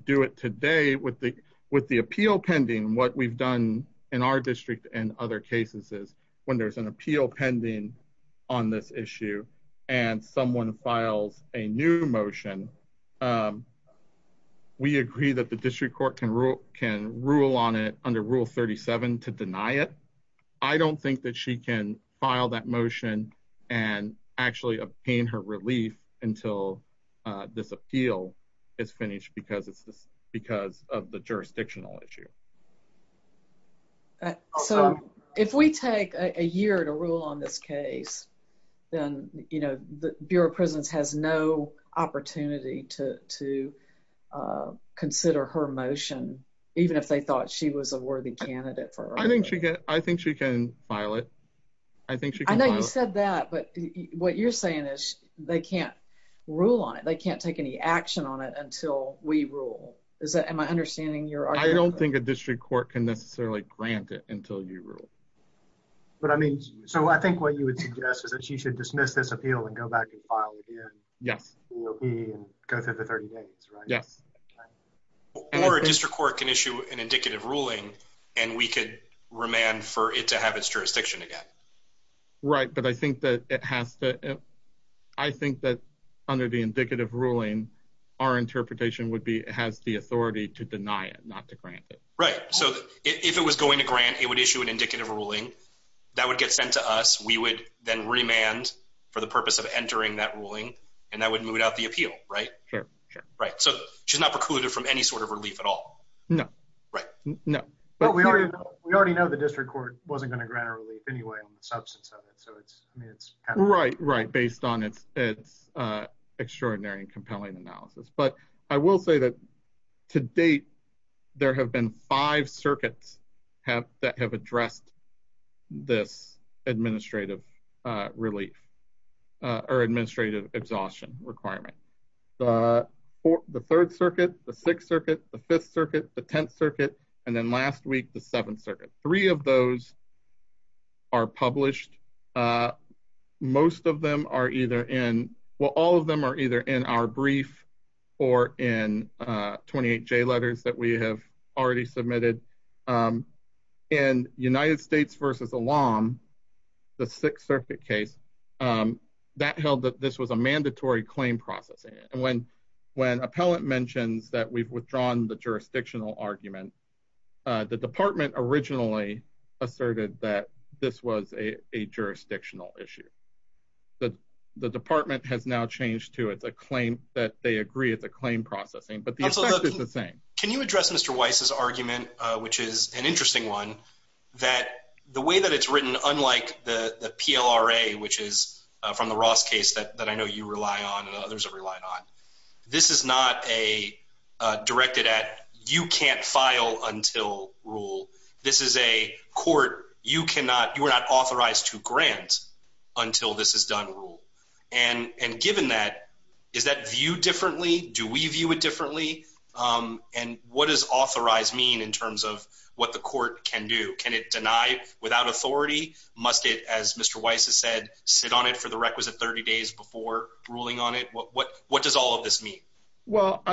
do it today with the appeal pending. What we've done in our district and other cases is when there's an appeal pending on this issue and someone files a new motion, we agree that the district court can rule on it under Rule 37 to deny it. I don't think that she can file that motion and actually obtain her relief until this appeal is finished because of the jurisdictional issue. So, if we take a year to rule on this case, then Bureau of Prisons has no opportunity to consider her motion, even if they thought she was a worthy candidate for her. I think she can file it. I think she can. I know you said that, but what you're saying is they can't rule on it. They can't take any action on it until we rule. Is that, am I understanding your argument? I don't think a district court can necessarily grant it until you rule. But I mean, so I think what you would suggest is that she should dismiss this appeal and go back and file again. Yes. BOP and go through the 30 days, right? Yes. Or a district court can issue an indicative ruling and we could remand for it to have its jurisdiction again. Right. But I think that it has to, I think that under the indicative ruling, our interpretation would be it has the authority to deny it, not to grant it. Right. So, if it was going to grant, it would issue an indicative ruling that would get sent to us. We would then remand for the purpose of entering that ruling and that would move out the appeal, right? Sure. Sure. Right. So, she's not precluded from any sort of relief at all. No. Right. No. But we already know the district court wasn't going to grant a relief anyway on the substance of it. So, it's, I mean, it's- Right. Right. Based on its extraordinary and compelling analysis. But I will say that to date, there have been five circuits that have addressed this administrative relief or administrative exhaustion requirement. The third circuit, the sixth circuit, the fifth circuit, the tenth circuit, and then last week, the seventh circuit. Three of those are published. Most of them are either in, well, all of them are either in our brief or in 28J letters that we have already submitted. In United States versus Elam, the sixth circuit case, that held that this was a mandatory claim processing. And when appellant mentions that we've withdrawn the jurisdictional argument, the department originally asserted that this was a jurisdictional issue. The department has now changed to it's a claim that they agree it's a claim processing, but the effect is the same. Can you address Mr. Weiss's argument, which is an interesting one, that the way that it's written unlike the PLRA, which is from the Ross case that I know you rely on and others have relied on, this is not a directed at, you can't file until rule. This is a court, you cannot, you are not authorized to grant until this is done rule. And given that, is that viewed differently? Do we view it differently? And what does authorized mean in terms of what the court can do? Can it deny without authority? Must it, as Mr. Weiss has said, sit on it for the requisite 30 days before ruling on it? What does all of this mean? Well,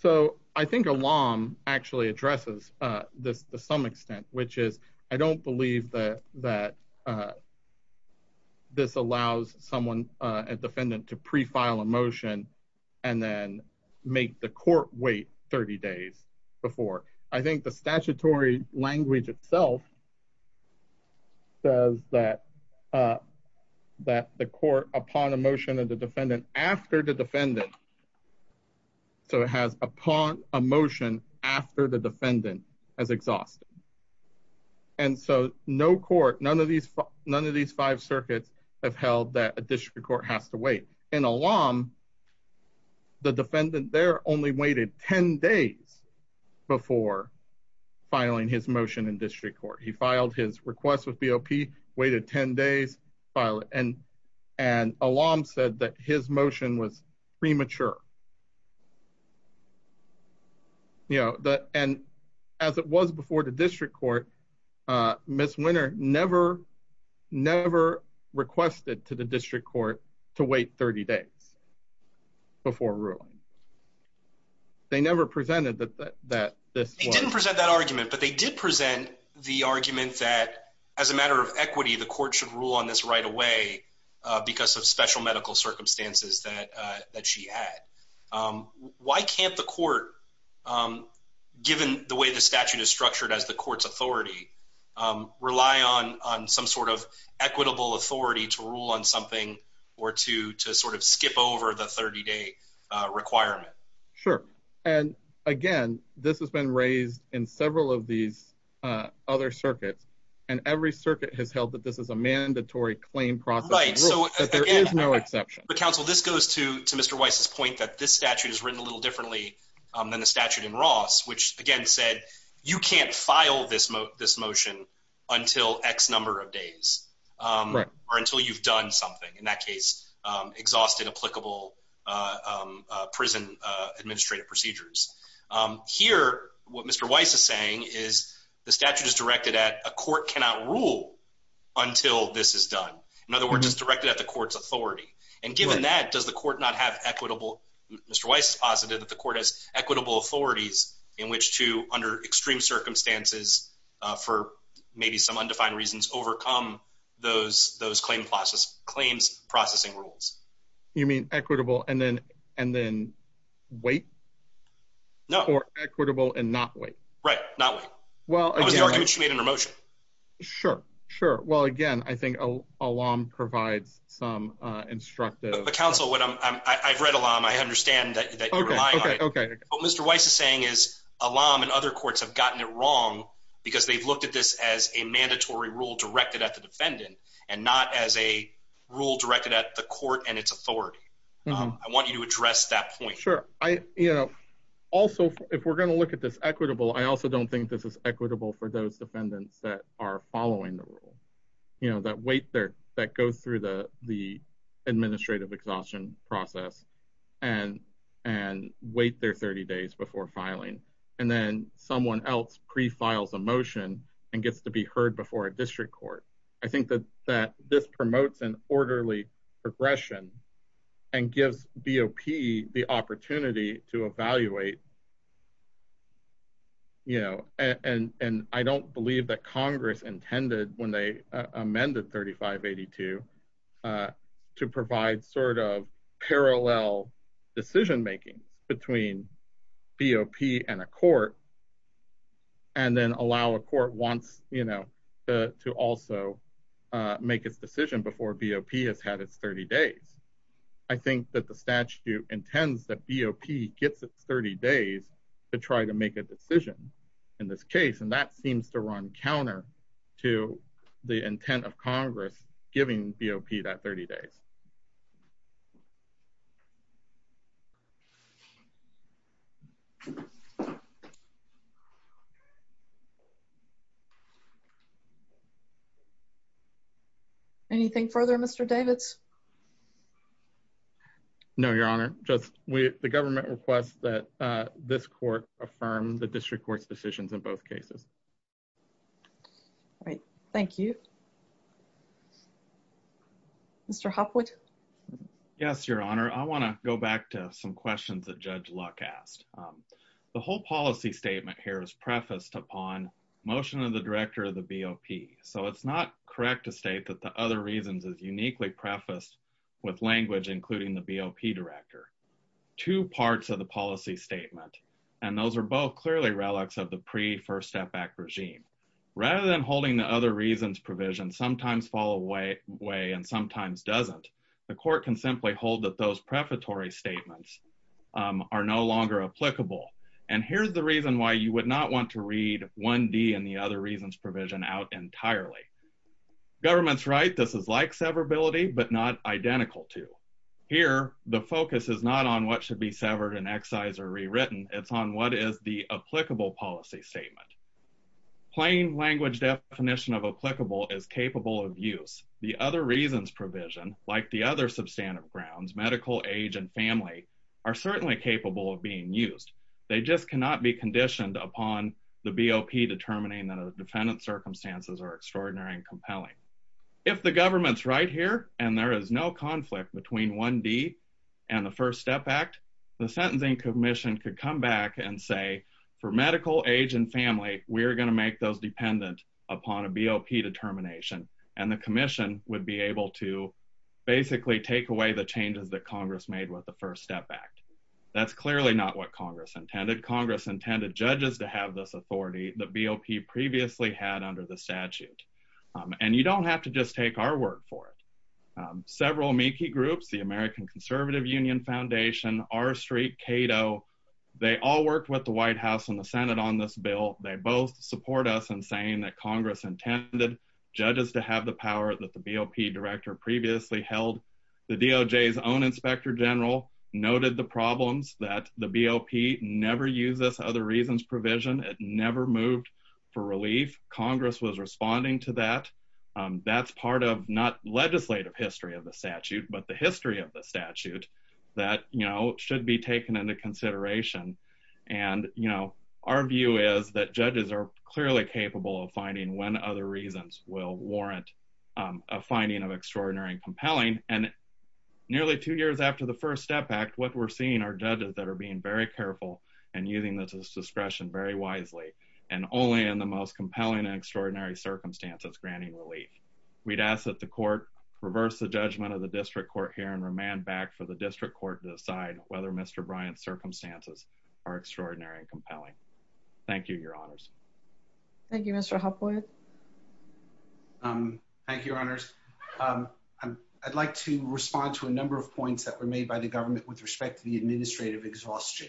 so I think Elam actually addresses this to some extent, which is, I don't believe that this allows someone, a defendant to pre-file a motion and then make the court wait 30 days before. I think the statutory language itself says that the court upon a motion of the defendant after the defendant, so it has upon a motion after the defendant as exhausted. And so no court, none of these five circuits have held that a district court has to wait. In Elam, the defendant there only waited 10 days before filing his motion in district court. He filed his request with BOP, waited 10 days, filed it, and Elam said that his motion was premature. And as it was before the district court, Ms. Winter never, never requested to the district court to sit on it for the requisite 30 days before ruling. They never presented that this was- They didn't present that argument, but they did present the argument that as a matter of equity, the court should rule on this right away because of special medical circumstances that she had. Why can't the court, given the way the statute is structured as the court's authority, rely on some sort of equitable authority to rule on something or to sort of skip over the 30-day requirement? Sure. And again, this has been raised in several of these other circuits, and every circuit has held that this is a mandatory claim process. Right. So there is no exception. But counsel, this goes to Mr. Weiss's point that this statute is written a little differently than the statute in Ross, which again said, you can't file this motion until X number of days or until you've done something. In that case, exhausted applicable prison administrative procedures. Here, what Mr. Weiss is saying is the statute is directed at a court cannot rule until this is done. In other words, it's directed at the court's authority. And given that, does the court not have equitable- extreme circumstances, for maybe some undefined reasons, overcome those claims processing rules? You mean equitable and then wait? No. Or equitable and not wait? Right. Not wait. That was the argument she made in her motion. Sure. Sure. Well, again, I think Alam provides some instructive- But counsel, I've read Alam. I understand that you're relying on it. Okay. Okay. What Mr. Weiss is saying is Alam and other courts have gotten it wrong because they've looked at this as a mandatory rule directed at the defendant and not as a rule directed at the court and its authority. I want you to address that point. Sure. Also, if we're going to look at this equitable, I also don't think this is equitable for those defendants that are following the rule. That wait there, that go through the and wait their 30 days before filing. And then someone else pre-files a motion and gets to be heard before a district court. I think that this promotes an orderly progression and gives BOP the opportunity to evaluate. And I don't believe that Congress intended when they amended 3582 to provide sort of parallel decision-making between BOP and a court and then allow a court to also make its decision before BOP has had its 30 days. I think that the statute intends that BOP gets its 30 days to try to make a decision in this case. And that seems to run counter to the intent of Congress giving BOP that 30 days. Anything further, Mr. Davids? No, Your Honor. Just the government requests that this court affirm the district court's decisions in both cases. All right. Thank you. Mr. Hopwood? Yes, Your Honor. I want to go back to some questions that Judge Luck asked. The whole policy statement here is prefaced upon motion of the director of the BOP. So it's not correct to state that the other reasons is uniquely prefaced with language, including the BOP director. Two parts of the policy statement, and those are both clearly relics of the pre-first step back regime. Rather than holding the other reasons provision sometimes fall away and sometimes doesn't, the court can simply hold that those prefatory statements are no longer applicable. And here's the reason why you would not want to read 1D and the other reasons provision out entirely. Government's right. This is like severability, but not identical to. Here, the focus is not on what should be severed and excised or rewritten. It's on what is the plain language definition of applicable is capable of use. The other reasons provision, like the other substantive grounds, medical age and family, are certainly capable of being used. They just cannot be conditioned upon the BOP determining that a defendant's circumstances are extraordinary and compelling. If the government's right here and there is no conflict between 1D and the first step back, the sentencing commission could come back and say, for medical age and family, we're going to make those dependent upon a BOP determination. And the commission would be able to basically take away the changes that Congress made with the first step back. That's clearly not what Congress intended. Congress intended judges to have this authority that BOP previously had under the statute. And you don't have to just take our word for it. Several Meeki groups, the American Conservative Union Foundation, R Street, Cato, they all worked with the White House and the Senate on this bill. They both support us in saying that Congress intended judges to have the power that the BOP director previously held. The DOJ's own inspector general noted the problems that the BOP never used this other reasons provision. It never moved for relief. Congress was responding to that. That's part of not legislative history of the statute, but the history of the statute that, you know, should be taken into consideration. And, you know, our view is that judges are clearly capable of finding when other reasons will warrant a finding of extraordinary and compelling. And nearly two years after the first step back, what we're seeing are judges that are being very careful and using this discretion very wisely and only in the most compelling and extraordinary circumstances granting relief. We'd ask that the court reverse the judgment of the district court here and remand back for the district court to decide whether Mr. Bryant's circumstances are extraordinary and compelling. Thank you, Your Honors. Thank you, Mr. Huffwood. Thank you, Your Honors. I'd like to respond to a number of points that were made by the government with respect to the administrative exhaustion.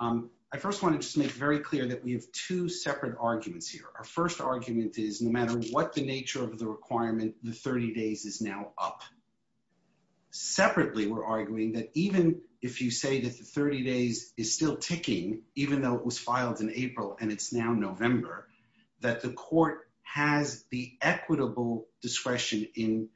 I first want to just make very clear that we have two separate arguments here. Our first argument is no matter what the nature of the requirement, the 30 days is now up. Separately, we're arguing that even if you say that the 30 days is still ticking, even though it was filed in April and it's now November, that the court has the equitable discretion in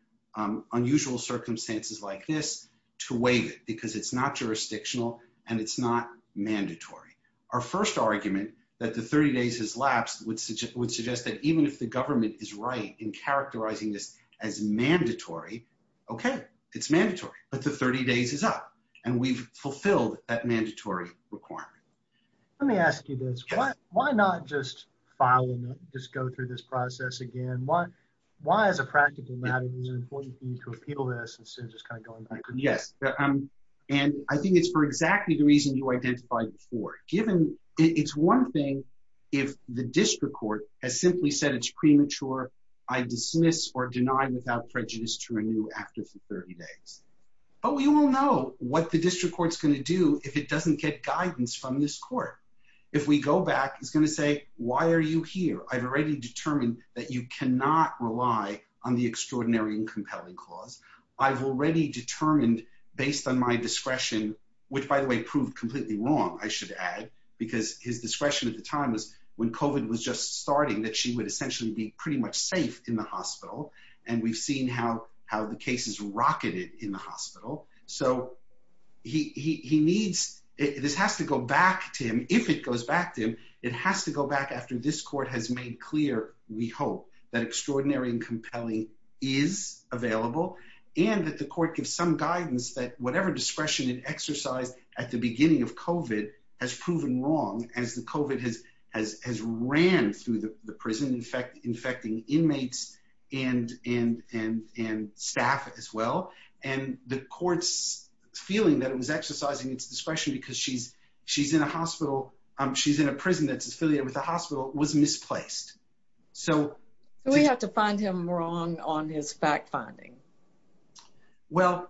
unusual circumstances like this to waive it because it's not jurisdictional and it's not mandatory. Our first argument that the 30 days has lapsed would suggest that even if the government is right in characterizing this as mandatory, okay, it's mandatory, but the 30 days is up and we've fulfilled that mandatory requirement. Let me ask you this. Why not just file and just go through this process again? Why as a practical matter is it important for you to identify before? It's one thing if the district court has simply said it's premature, I dismiss or deny without prejudice to renew after the 30 days, but we will know what the district court's going to do if it doesn't get guidance from this court. If we go back, it's going to say, why are you here? I've already determined that you cannot rely on the extraordinary and compelling clause. I've already determined based on my discretion, which by the way, proved completely wrong, I should add, because his discretion at the time was when COVID was just starting that she would essentially be pretty much safe in the hospital. And we've seen how the cases rocketed in the hospital. So this has to go back to him. If it goes back to him, it has to go back after this court has made clear, we hope, that extraordinary and compelling is available and that the court gives some guidance that whatever discretion it exercised at the beginning of COVID has proven wrong as the COVID has ran through the prison infecting inmates and staff as well. And the court's feeling that it was exercising its discretion because she's in a hospital, she's in a prison that's affiliated with the hospital, was misplaced. So we have to find him wrong on his fact finding. Well,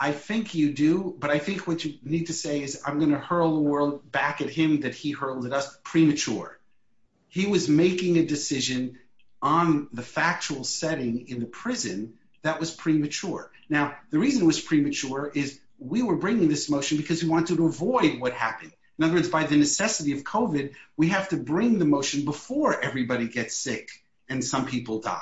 I think you do, but I think what you need to say is I'm going to hurl the world back at him that he hurled at us premature. He was making a decision on the factual setting in the prison that was premature. Now, the reason it was premature is we were bringing this motion because we wanted to avoid what happened. In other words, by the necessity of COVID, we have to bring the motion before everybody gets sick and some people die.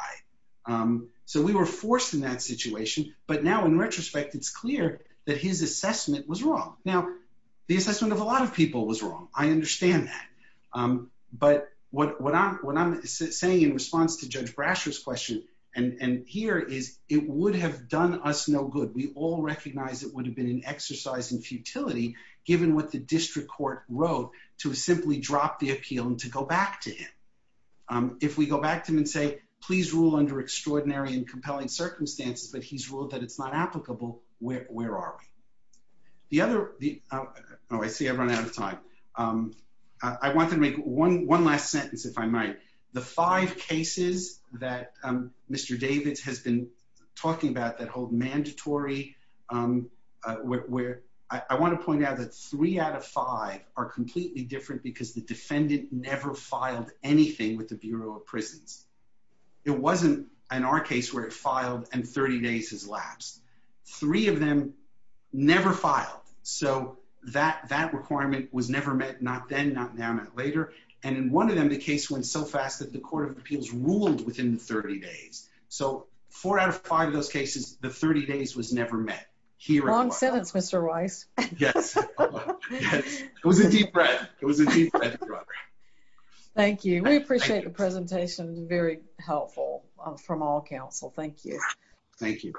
So we were forced in that situation. But now in retrospect, it's clear that his assessment was wrong. Now, the assessment of a lot of people was wrong. I understand that. But what I'm saying in response to Judge Brasher's question and here is it would have done us no good. We all recognize it would have been an exercise in futility given what the district court wrote to simply drop the appeal and to go back to him. If we go back to him and say, please rule under extraordinary and compelling circumstances, but he's ruled that it's not applicable, where are we? Oh, I see I've run out of time. I want to make one last sentence, if I might. The five cases that Mr. Davis has been talking about that hold mandatory, I want to point out that three out of five are completely different because the defendant never filed anything with the Bureau of Prisons. It wasn't in our case where it filed and 30 days has lapsed. Three of them never filed. So that requirement was never met, not then, not now, not later. And in one of them, the case went so fast that the Court of Appeals ruled within 30 days. So four out of five of those cases, the 30 days was never met. Long sentence, Mr. Rice. Yes. It was a deep breath. It was a deep breath. Thank you. We appreciate the presentation. Very helpful from all counsel. Thank you. Thank you.